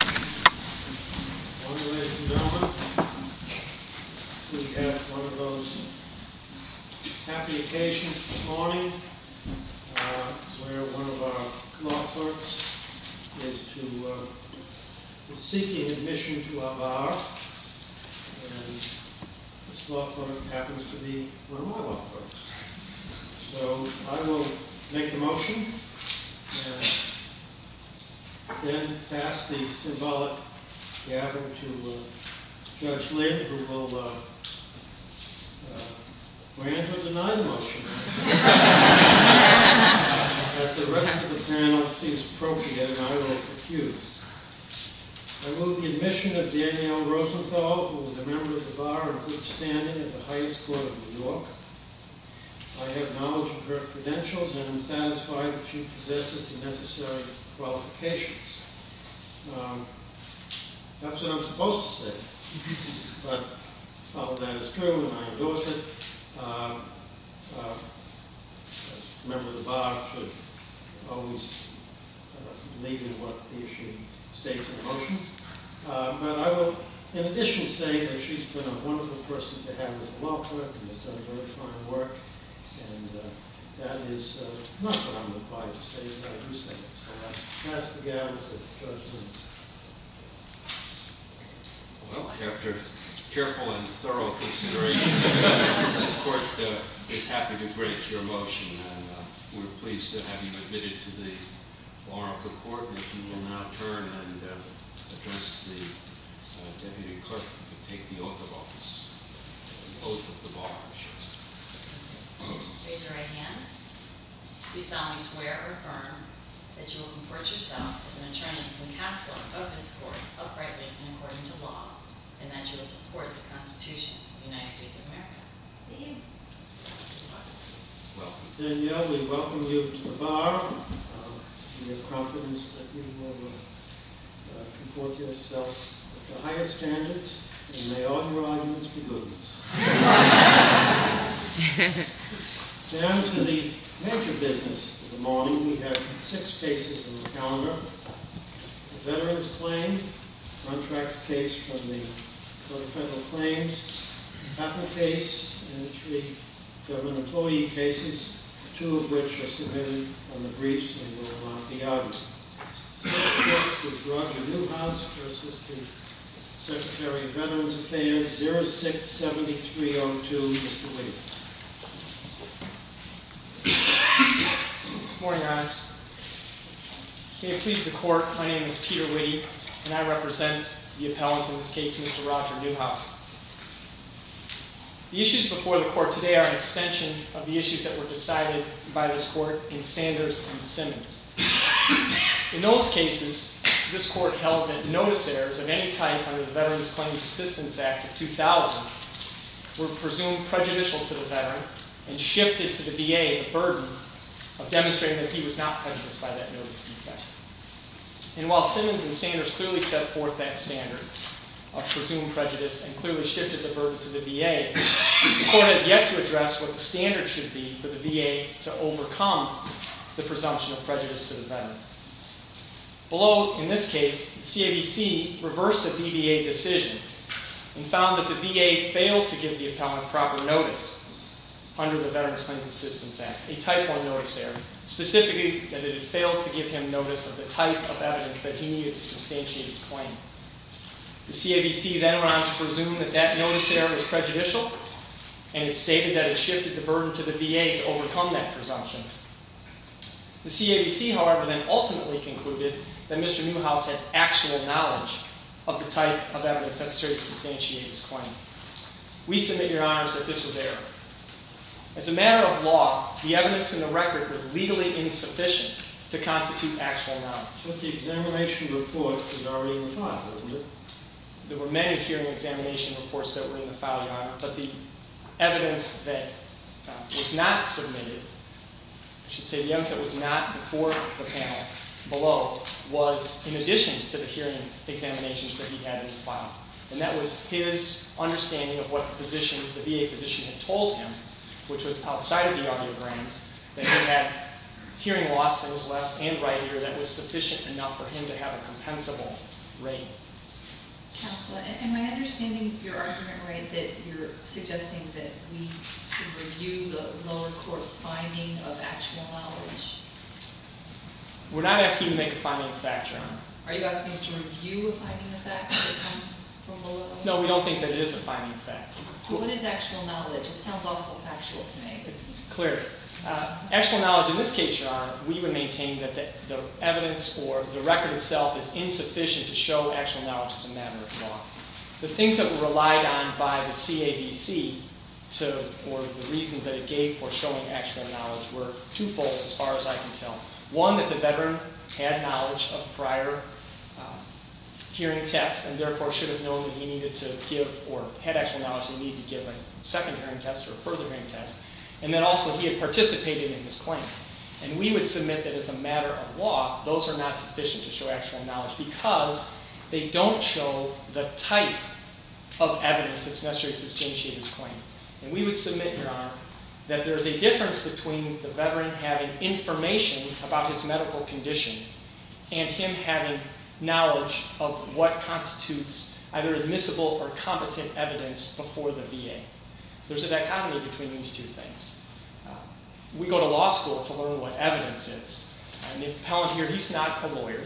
We have one of those happy occasions this morning, where one of our law clerks is seeking admission to a bar, and this law clerk happens to be one of my law clerks. So I will make the motion, and then pass the symbolic gavel to Judge Lind, who will grant or deny the motion, as the rest of the panel sees appropriate, and I will accuse. I move the admission of Danielle Rosenthal, who is a member of the bar and good standing at the highest court of New York. I have knowledge of her credentials and am satisfied that she possesses the necessary qualifications. That's what I'm supposed to say, but I'll follow that as true, and I endorse it. A member of the bar should always believe in what the issue states in the motion. But I will, in addition, say that she's been a wonderful person to have as a law clerk, and has done very fine work, and that is not what I'm required to say, but I do say it. So I pass the gavel to Judge Lind. Well, after careful and thorough consideration, the court is happy to break your motion, and we're pleased to have you admitted to the bar of the court, and if you will now turn and address the deputy clerk, you can take the oath of office. Raise your right hand. Do you solemnly swear or affirm that you will comport yourself as an attorney and counsellor of this court, uprightly and according to law, and that you will support the Constitution of the United States of America? I do. Well, then, yeah, we welcome you to the bar. We have confidence that you will comport yourself to higher standards, and may all your arguments be good ones. Down to the major business of the morning, we have six cases on the calendar. A veterans claim, a contract case from the court of federal claims, a capital case, and three government employee cases, two of which are submitted on the briefs and will not be audited. The first case is Roger Newhouse v. Secretary of Veterans Affairs, 067302, Mr. Whitty. Good morning, Your Honor. May it please the court, my name is Peter Whitty, and I represent the appellant in this case, Mr. Roger Newhouse. The issues before the court today are an extension of the issues that were decided by this court in Sanders v. Simmons. In those cases, this court held that notice errors of any type under the Veterans Claims Assistance Act of 2000 were presumed prejudicial to the veteran and shifted to the VA the burden of demonstrating that he was not prejudiced by that notice effect. And while Simmons and Sanders clearly set forth that standard of presumed prejudice and clearly shifted the burden to the VA, the court has yet to address what the standard should be for the VA to overcome the presumption of prejudice to the veteran. Below, in this case, the CAVC reversed a BVA decision and found that the VA failed to give the appellant proper notice under the Veterans Claims Assistance Act, a Type I notice error, specifically that it had failed to give him notice of the type of evidence that he needed to substantiate his claim. The CAVC then went on to presume that that notice error was prejudicial, and it stated that it shifted the burden to the VA to overcome that presumption. The CAVC, however, then ultimately concluded that Mr. Newhouse had actual knowledge of the type of evidence necessary to substantiate his claim. We submit, Your Honors, that this was error. As a matter of law, the evidence in the record was legally insufficient to constitute actual knowledge. But the examination report was already in the file, wasn't it? There were many hearing examination reports that were in the file, Your Honor, but the evidence that was not submitted, I should say the evidence that was not before the panel below, was in addition to the hearing examinations that he had in the file. And that was his understanding of what the VA physician had told him, which was outside of the audiograms, that he had hearing loss that was left and right ear that was sufficient enough for him to have a compensable rating. Counselor, am I understanding your argument right that you're suggesting that we should review the lower court's finding of actual knowledge? We're not asking you to make a finding of facts, Your Honor. Are you asking us to review a finding of facts that comes from below? No, we don't think that it is a finding of facts. What is actual knowledge? It sounds awful factual to me. Clear. Actual knowledge, in this case, Your Honor, we would maintain that the evidence or the record itself is insufficient to show actual knowledge as a matter of law. The things that were relied on by the CADC, or the reasons that it gave for showing actual knowledge, were twofold as far as I can tell. One, that the veteran had knowledge of prior hearing tests and therefore should have known that he needed to give or had actual knowledge that he needed to give a second hearing test or a further hearing test. And then also he had participated in this claim. And we would submit that as a matter of law, those are not sufficient to show actual knowledge because they don't show the type of evidence that's necessary to substantiate his claim. And we would submit, Your Honor, that there's a difference between the veteran having information about his medical condition and him having knowledge of what constitutes either admissible or competent evidence before the VA. There's a dichotomy between these two things. We go to law school to learn what evidence is. And the appellant here, he's not a lawyer,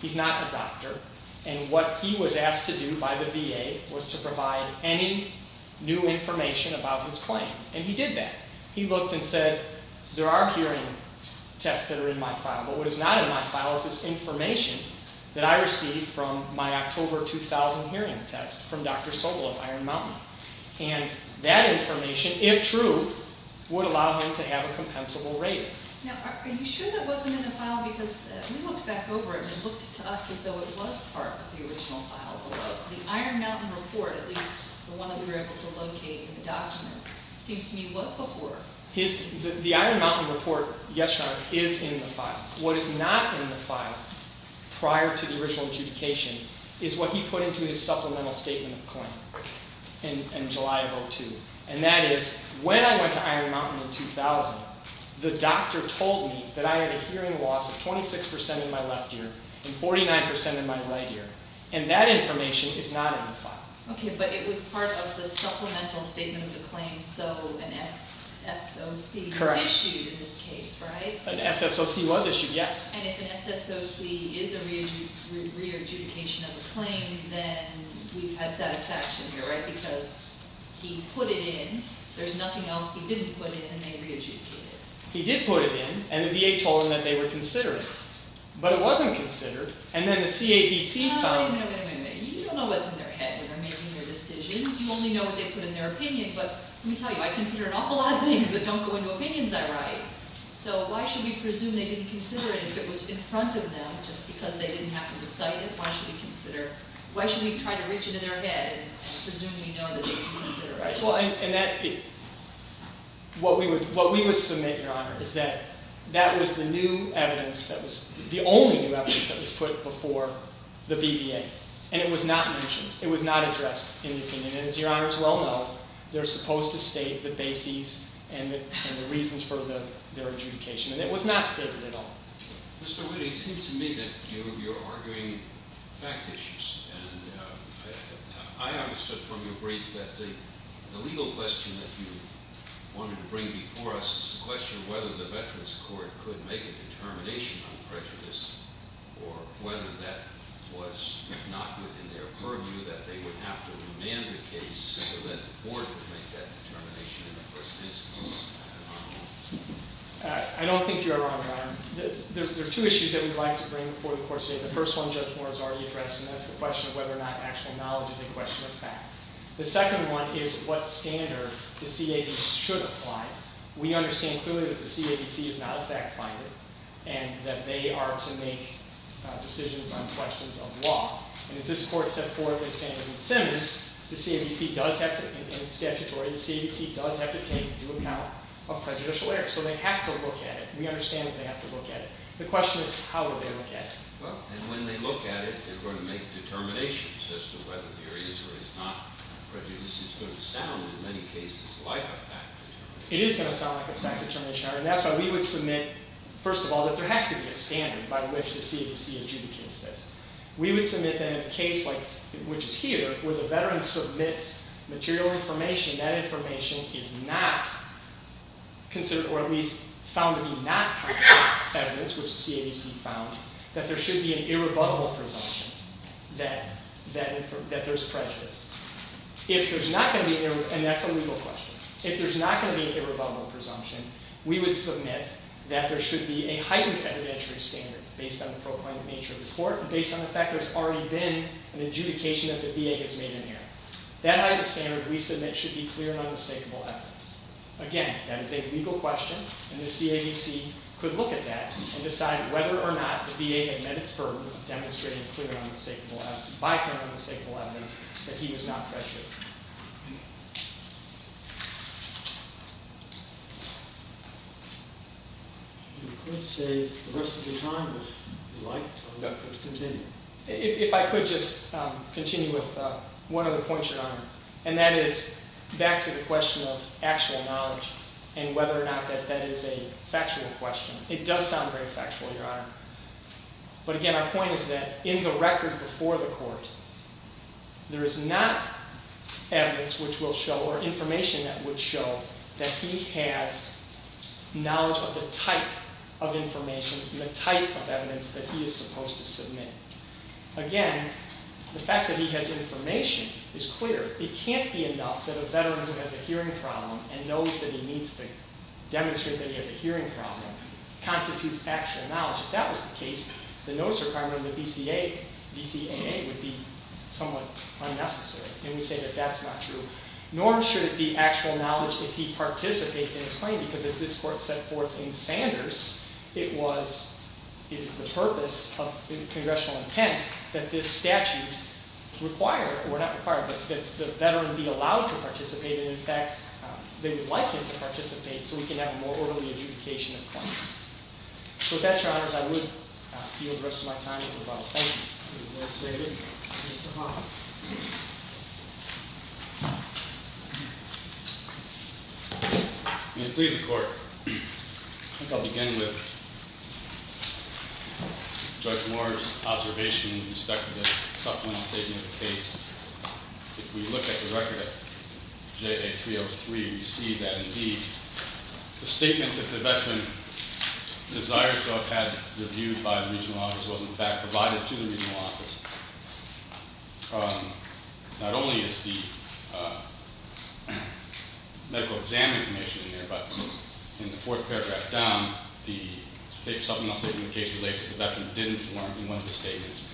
he's not a doctor, and what he was asked to do by the VA was to provide any new information about his claim. And he did that. He looked and said, there are hearing tests that are in my file, but what is not in my file is this information that I received from my October 2000 hearing test from Dr. Sobel of Iron Mountain. And that information, if true, would allow him to have a compensable rate. Now, are you sure that wasn't in the file? Because we looked back over it and it looked to us as though it was part of the original file below. So the Iron Mountain report, at least the one that we were able to locate in the documents, seems to me was before. The Iron Mountain report, yes, Your Honor, is in the file. What is not in the file prior to the original adjudication is what he put into his supplemental statement of claim in July of 2002. And that is, when I went to Iron Mountain in 2000, the doctor told me that I had a hearing loss of 26% in my left ear and 49% in my right ear. And that information is not in the file. Okay, but it was part of the supplemental statement of the claim, so an SSOC was issued in this case, right? An SSOC was issued, yes. And if an SSOC is a re-adjudication of a claim, then we have satisfaction here, right? Because he put it in. There's nothing else he didn't put in, and they re-adjudicated it. He did put it in, and the VA told him that they were considering it. But it wasn't considered. And then the CAPC found it. Wait a minute, wait a minute, wait a minute. You don't know what's in their head when they're making their decisions. You only know what they put in their opinion. But let me tell you, I consider an awful lot of things that don't go into opinions I write. So why should we presume they didn't consider it if it was in front of them just because they didn't happen to cite it? Why should we consider? Why should we try to reach into their head and presume we know that they didn't consider it? Well, and that – what we would submit, Your Honor, is that that was the new evidence that was – the only new evidence that was put before the VVA, and it was not mentioned. It was not addressed in the opinion. And as Your Honors well know, they're supposed to state the bases and the reasons for their adjudication. And it was not stated at all. Mr. Witte, it seems to me that you're arguing fact issues. And I understood from your brief that the legal question that you wanted to bring before us is the question of whether the Veterans Court could make a determination on prejudice or whether that was not within their purview, that they would have to demand the case so that the Board could make that determination in the first instance. I don't think you're wrong, Your Honor. There are two issues that we'd like to bring before the Court today. The first one Judge Moore has already addressed, and that's the question of whether or not actual knowledge is a question of fact. The second one is what standard the CADC should apply. We understand clearly that the CADC is not a fact finder and that they are to make decisions on questions of law. And as this Court set forth in Sanderson-Simmons, the CADC does have to, in statutory, the CADC does have to take into account a prejudicial error. So they have to look at it. We understand that they have to look at it. The question is how do they look at it. Well, and when they look at it, they're going to make determinations as to whether there is or is not prejudice. Which is going to sound in many cases like a fact. It is going to sound like a fact determination, Your Honor. And that's why we would submit, first of all, that there has to be a standard by which the CADC adjudicates this. We would submit that in a case like, which is here, where the veteran submits material information, that information is not considered, or at least found to be not concrete evidence, which the CADC found, that there should be an irrebuttable presumption that there's prejudice. If there's not going to be, and that's a legal question, if there's not going to be an irrebuttable presumption, we would submit that there should be a heightened evidentiary standard, based on the proclaimed nature of the court, based on the fact that there's already been an adjudication that the VA has made in here. That heightened standard, we submit, should be clear and unmistakable evidence. Again, that is a legal question, and the CADC could look at that and decide whether or not the VA had met its burden of demonstrating clear and unmistakable evidence, by claiming unmistakable evidence, that he was not prejudiced. You could save the rest of your time, if you'd like, to continue. If I could just continue with one other point, Your Honor, and that is back to the question of actual knowledge, and whether or not that is a factual question. It does sound very factual, Your Honor. But again, our point is that in the record before the court, there is not evidence which will show, or information that would show, that he has knowledge of the type of information, and the type of evidence that he is supposed to submit. Again, the fact that he has information is clear. It can't be enough that a veteran who has a hearing problem, and knows that he needs to demonstrate that he has a hearing problem, constitutes actual knowledge. If that was the case, the notice requirement of the VCAA would be somewhat unnecessary, and we say that that's not true. Nor should it be actual knowledge if he participates in his claim, because as this court set forth in Sanders, it is the purpose of congressional intent that this statute require, or not require, but that the veteran be allowed to participate, and in fact, they would like him to participate, so we can have a more orderly adjudication of claims. So with that, Your Honors, I would yield the rest of my time. Thank you. You're most welcome. Mr. Hahn. Ms. Pleasantcourt, I think I'll begin with Judge Moore's observation with respect to the supplement statement of the case. If we look at the record of JA303, we see that, indeed, the statement that the veteran desires to have had reviewed by the regional office was, in fact, provided to the regional office. Not only is the medical exam information in there, but in the fourth paragraph down, the supplemental statement of the case relates that the veteran didn't form in one of the statements.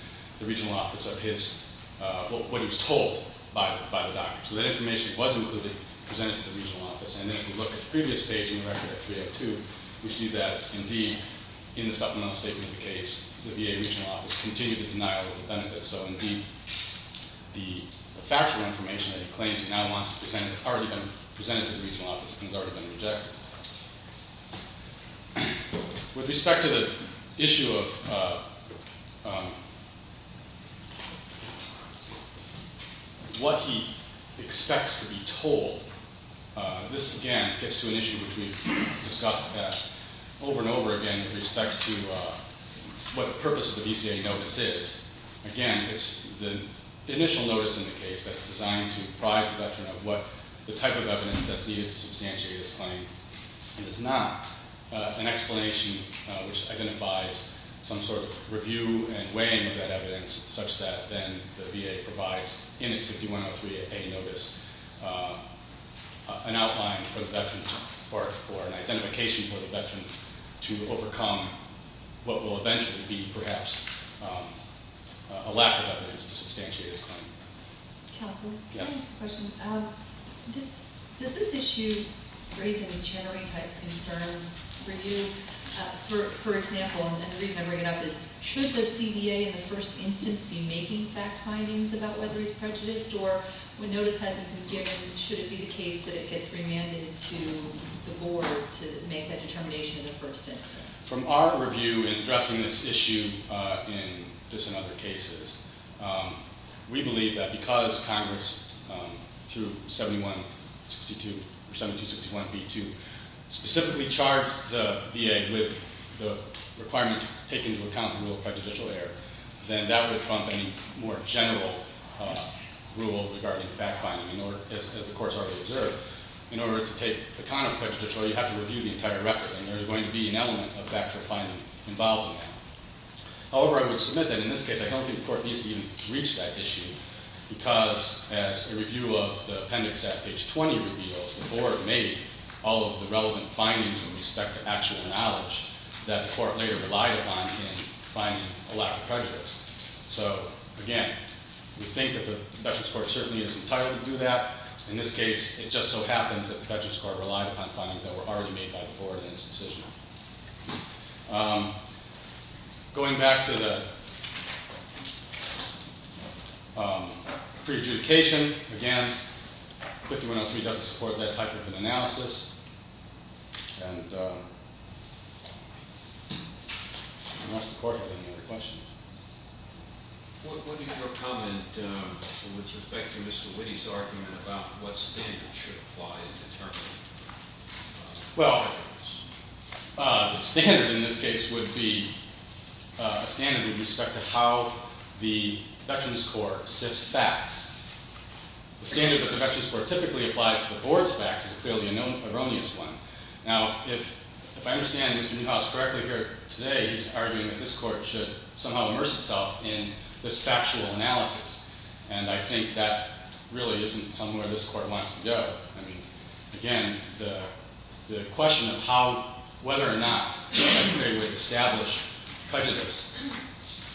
The regional office of his, what he was told by the doctor. So that information was included, presented to the regional office, and then if we look at the previous page in the record of 302, we see that, indeed, in the supplemental statement of the case, the VA regional office continued to deny all of the benefits. So, indeed, the factual information that he claims he now wants to present has already been presented to the regional office. It has already been rejected. With respect to the issue of what he expects to be told, this, again, gets to an issue which we've discussed over and over again with respect to what the purpose of the DCA notice is. Again, it's the initial notice in the case that's designed to prize the veteran of what the type of evidence that's needed to substantiate his claim. It is not an explanation which identifies some sort of review and weighing of that evidence such that then the VA provides in its 5103A notice an outline for the veteran or an identification for the veteran to overcome what will eventually be, perhaps, a lack of evidence to substantiate his claim. Counselor? Yes. I have a question. Does this issue raise any January-type concerns for you? For example, and the reason I bring it up is, should the CBA in the first instance be making fact findings about whether he's prejudiced, or when notice hasn't been given, should it be the case that it gets remanded to the board to make that determination in the first instance? From our review in addressing this issue, just in other cases, we believe that because Congress, through 7162 or 7261B2, specifically charged the VA with the requirement to take into account the rule of prejudicial error, then that would trump any more general rule regarding fact finding. As the Court has already observed, in order to take account of prejudicial error, you have to review the entire record, and there is going to be an element of factual finding involved in that. However, I would submit that in this case I don't think the Court needs to even reach that issue because, as a review of the appendix at page 20 reveals, the board made all of the relevant findings with respect to actual knowledge that the Court later relied upon in finding a lack of prejudice. So, again, we think that the Veterans Court certainly is entitled to do that. In this case, it just so happens that the Veterans Court relied upon findings that were already made by the board in its decision. Going back to the prejudication, again, 5103 doesn't support that type of an analysis, and I'm not supportive of any other questions. What is your comment with respect to Mr. Witte's argument about what standard should apply in determining prejudice? Well, the standard in this case would be a standard with respect to how the Veterans Court sifts facts. The standard that the Veterans Court typically applies to the board's facts is clearly an erroneous one. Now, if I understand Mr. Newhouse correctly here today, he's arguing that this Court should somehow immerse itself in this factual analysis, and I think that really isn't somewhere this Court wants to go. I mean, again, the question of whether or not there is a way to establish prejudice,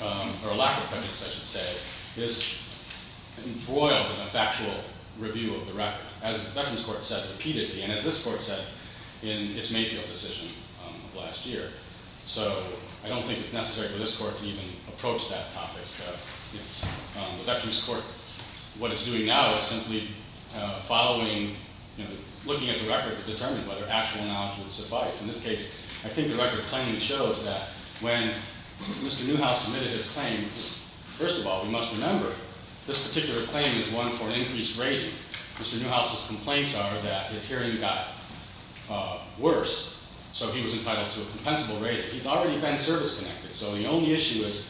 or a lack of prejudice, I should say, is embroiled in a factual review of the record. As the Veterans Court said repeatedly, and as this Court said in its Mayfield decision of last year, so I don't think it's necessary for this Court to even approach that topic. The Veterans Court, what it's doing now, is simply following, you know, looking at the record to determine whether actual knowledge would suffice. In this case, I think the record claiming shows that when Mr. Newhouse submitted his claim, first of all, we must remember this particular claim is one for an increased rating. Mr. Newhouse's complaints are that his hearing got worse, so he was entitled to a compensable rating. He's already been service-connected, so the only issue is,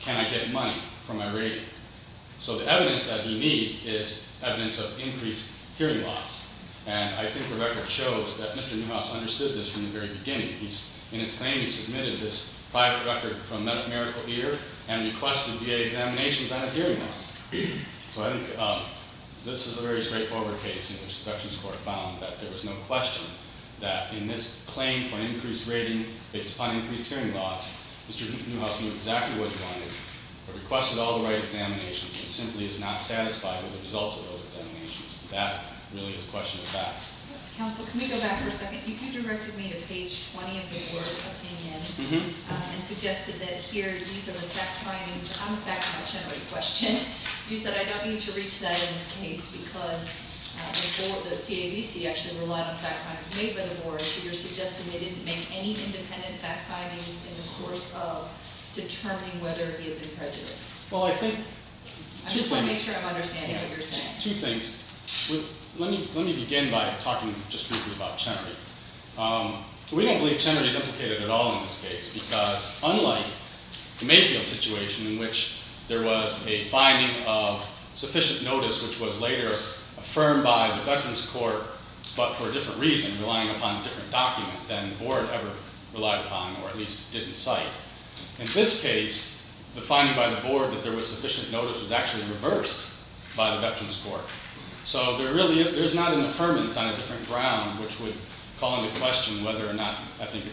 can I get money for my rating? So the evidence that he needs is evidence of increased hearing loss, and I think the record shows that Mr. Newhouse understood this from the very beginning. In his claim, he submitted this private record from medical ear and requested VA examinations on his hearing loss. So I think this is a very straightforward case in which the Veterans Court found that there was no question that in this claim for an increased rating based upon increased hearing loss, Mr. Newhouse knew exactly what he wanted, but requested all the right examinations, and simply is not satisfied with the results of those examinations. That really is a question of fact. Counsel, can we go back for a second? You directed me to page 20 of your opinion and suggested that here, these are the fact findings on the fact-generated question. You said, I don't need to reach that in this case because the CAVC actually relied on fact findings made by the board, so you're suggesting they didn't make any independent fact findings in the course of determining whether he had been prejudiced. I just want to make sure I'm understanding what you're saying. Two things. Let me begin by talking just briefly about Chenery. We don't believe Chenery is implicated at all in this case, because unlike the Mayfield situation in which there was a finding of sufficient notice, which was later affirmed by the Veterans Court, but for a different reason, relying upon a different document than the board ever relied upon, or at least didn't cite. In this case, the finding by the board that there was sufficient notice was actually reversed by the Veterans Court. So there's not an affirmance on a different ground which would call into question whether or not, I think,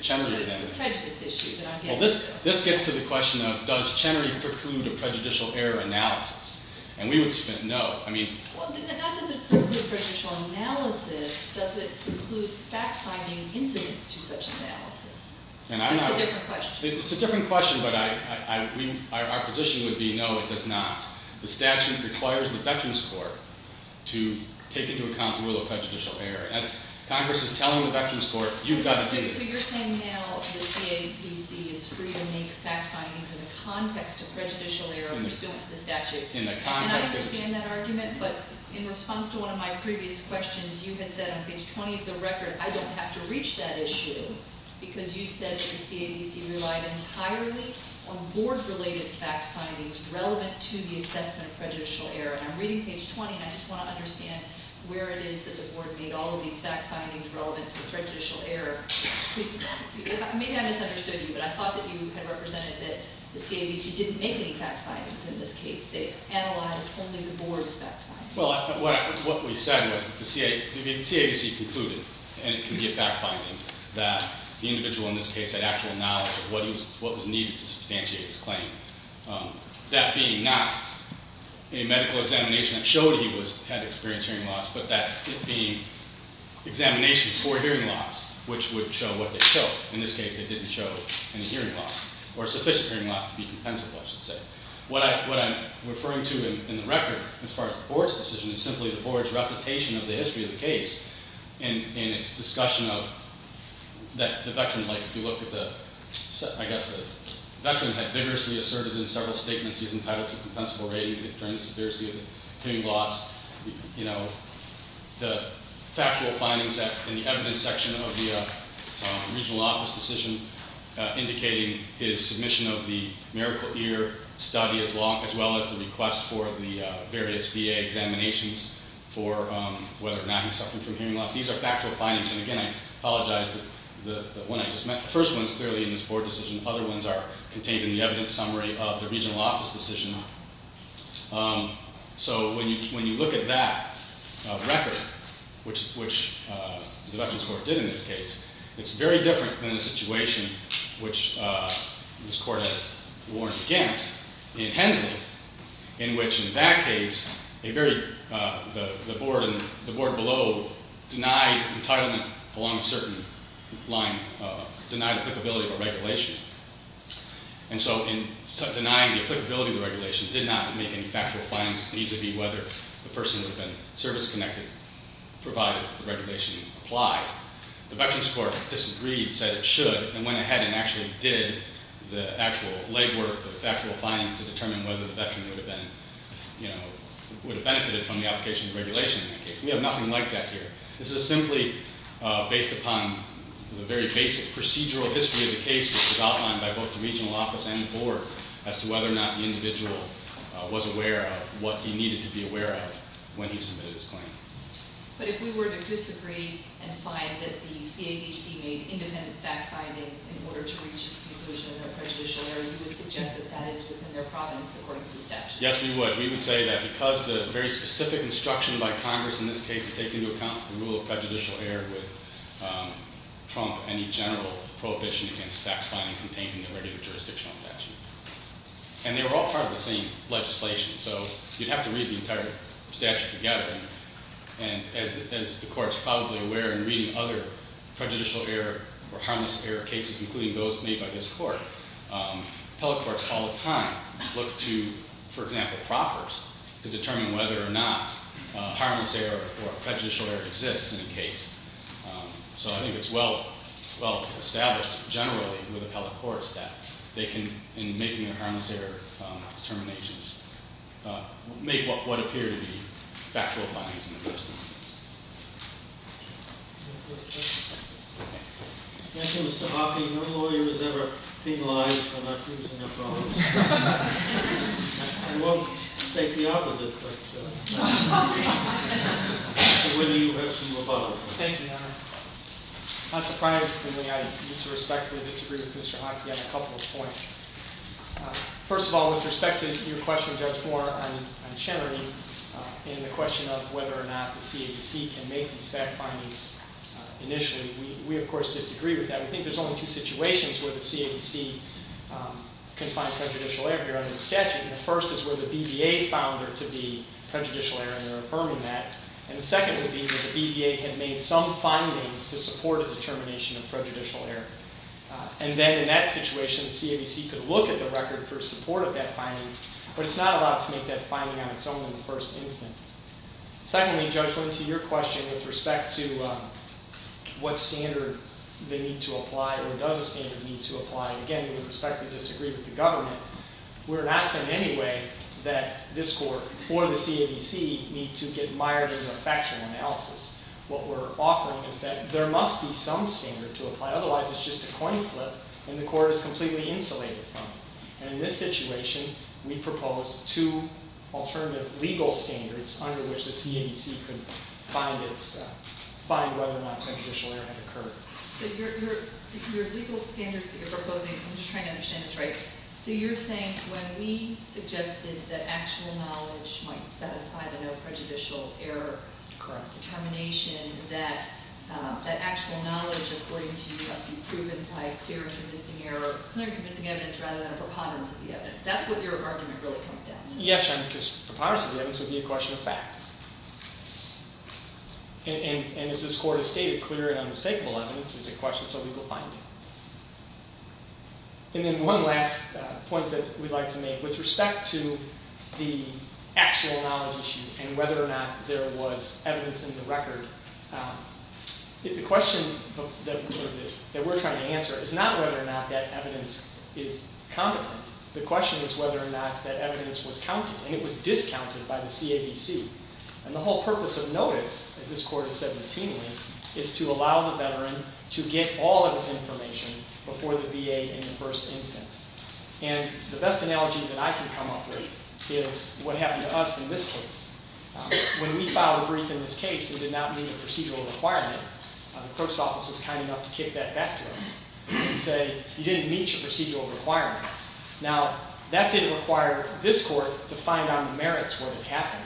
Well, this gets to the question of does Chenery preclude a prejudicial error analysis? And we would say no. Well, not does it preclude prejudicial analysis. Does it preclude fact-finding incident to such analysis? It's a different question. It's a different question, but our position would be no, it does not. The statute requires the Veterans Court to take into account the rule of prejudicial error. Congress is telling the Veterans Court, you've got to do this. So you're saying now the CABC is free to make fact findings in the context of prejudicial error pursuant to the statute. In the context of And I understand that argument, but in response to one of my previous questions, you had said on page 20 of the record, I don't have to reach that issue because you said that the CABC relied entirely on board-related fact findings relevant to the assessment of prejudicial error. And I'm reading page 20, and I just want to understand where it is that the board made all of these fact findings relevant to prejudicial error. Maybe I misunderstood you, but I thought that you had represented that the CABC didn't make any fact findings in this case. They analyzed only the board's fact findings. Well, what we said was that the CABC concluded, and it can be a fact finding, that the individual in this case had actual knowledge of what was needed to substantiate his claim. That being not a medical examination that showed he had experienced hearing loss, but that it being examinations for hearing loss, which would show what they showed. In this case, they didn't show any hearing loss or sufficient hearing loss to be compensable, I should say. What I'm referring to in the record as far as the board's decision is simply the board's recitation of the history of the case and its discussion of the veteran. If you look at the, I guess, the veteran had vigorously asserted in several statements he was entitled to a compensable rating during the severity of the hearing loss. The factual findings in the evidence section of the regional office decision indicating his submission of the Miracle Ear study as well as the request for the various VA examinations for whether or not he suffered from hearing loss. These are factual findings, and again, I apologize that the one I just meant. The first one is clearly in this board decision. The other ones are contained in the evidence summary of the regional office decision. So when you look at that record, which the veterans court did in this case, it's very different than the situation which this court has warned against in Hensman, in which in that case, the board below denied entitlement along a certain line, denied applicability of a regulation. And so in denying the applicability of the regulation did not make any factual findings vis-a-vis whether the person would have been service-connected provided the regulation applied. The veterans court disagreed, said it should, and went ahead and actually did the actual legwork, the factual findings to determine whether the veteran would have benefited from the application of regulation in that case. We have nothing like that here. This is simply based upon the very basic procedural history of the case, which was outlined by both the regional office and the board, as to whether or not the individual was aware of what he needed to be aware of when he submitted his claim. But if we were to disagree and find that the CADC made independent fact findings in order to reach its conclusion of a prejudicial error, you would suggest that that is within their province, according to the statute? Yes, we would. We would say that because the very specific instruction by Congress in this case to take into account the rule of prejudicial error would trump any general prohibition against fact-finding contained in the regular jurisdictional statute. And they were all part of the same legislation, so you'd have to read the entire statute together. And as the Court is probably aware in reading other prejudicial error or harmless error cases, including those made by this Court, appellate courts all the time look to, for example, proffers to determine whether or not harmless error or prejudicial error exists in a case. So I think it's well established generally with appellate courts that they can, in making their harmless error determinations, make what would appear to be factual findings in the first instance. Thank you, Mr. Hockey. No lawyer has ever penalized a doctor who's in their province. I won't take the opposite, but whether you have some above. Thank you, Your Honor. Unsurprisingly, I need to respectfully disagree with Mr. Hockey on a couple of points. First of all, with respect to your question, Judge Moore, on charity and the question of whether or not the CABC can make these fact findings initially, we, of course, disagree with that. We think there's only two situations where the CABC can find prejudicial error here under the statute. And the first is where the BBA found there to be prejudicial error, and they're affirming that. And the second would be that the BBA had made some findings to support a determination of prejudicial error. And then, in that situation, the CABC could look at the record for support of that findings, but it's not allowed to make that finding on its own in the first instance. Secondly, Judge, with respect to your question with respect to what standard they need to apply or does a standard need to apply, again, with respect, we disagree with the government. We're not saying in any way that this court or the CABC need to get mired in a factual analysis. What we're offering is that there must be some standard to apply. Otherwise, it's just a coin flip, and the court is completely insulated from it. And in this situation, we propose two alternative legal standards under which the CABC could find whether or not prejudicial error had occurred. So your legal standards that you're proposing, I'm just trying to understand this right. So you're saying when we suggested that actual knowledge might satisfy the no prejudicial error determination, that actual knowledge, according to you, must be proven by clear and convincing evidence rather than a preponderance of the evidence. That's what your argument really comes down to. Yes, Your Honor, because preponderance of the evidence would be a question of fact. And as this court has stated, clear and unmistakable evidence is a question of legal finding. And then one last point that we'd like to make with respect to the actual knowledge issue and whether or not there was evidence in the record. The question that we're trying to answer is not whether or not that evidence is competent. The question is whether or not that evidence was counted, and it was discounted by the CABC. And the whole purpose of notice, as this court has said routinely, is to allow the veteran to get all of his information before the VA in the first instance. And the best analogy that I can come up with is what happened to us in this case. When we filed a brief in this case, it did not meet a procedural requirement. The clerk's office was kind enough to kick that back to us and say, you didn't meet your procedural requirements. Now, that didn't require this court to find on the merits what had happened.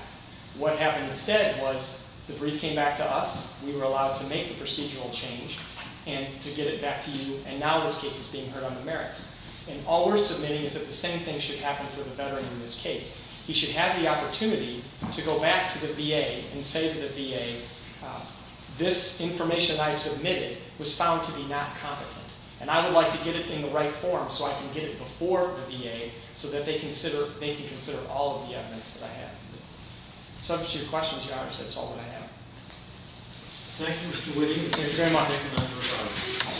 What happened instead was the brief came back to us. We were allowed to make the procedural change and to get it back to you. And now this case is being heard on the merits. And all we're submitting is that the same thing should happen for the veteran in this case. He should have the opportunity to go back to the VA and say to the VA, this information I submitted was found to be not competent. And I would like to get it in the right form so I can get it before the VA so that they can consider all of the evidence that I have. If that answers your questions, Your Honor, that's all that I have. Thank you, Mr. Whitty. Thank you very much.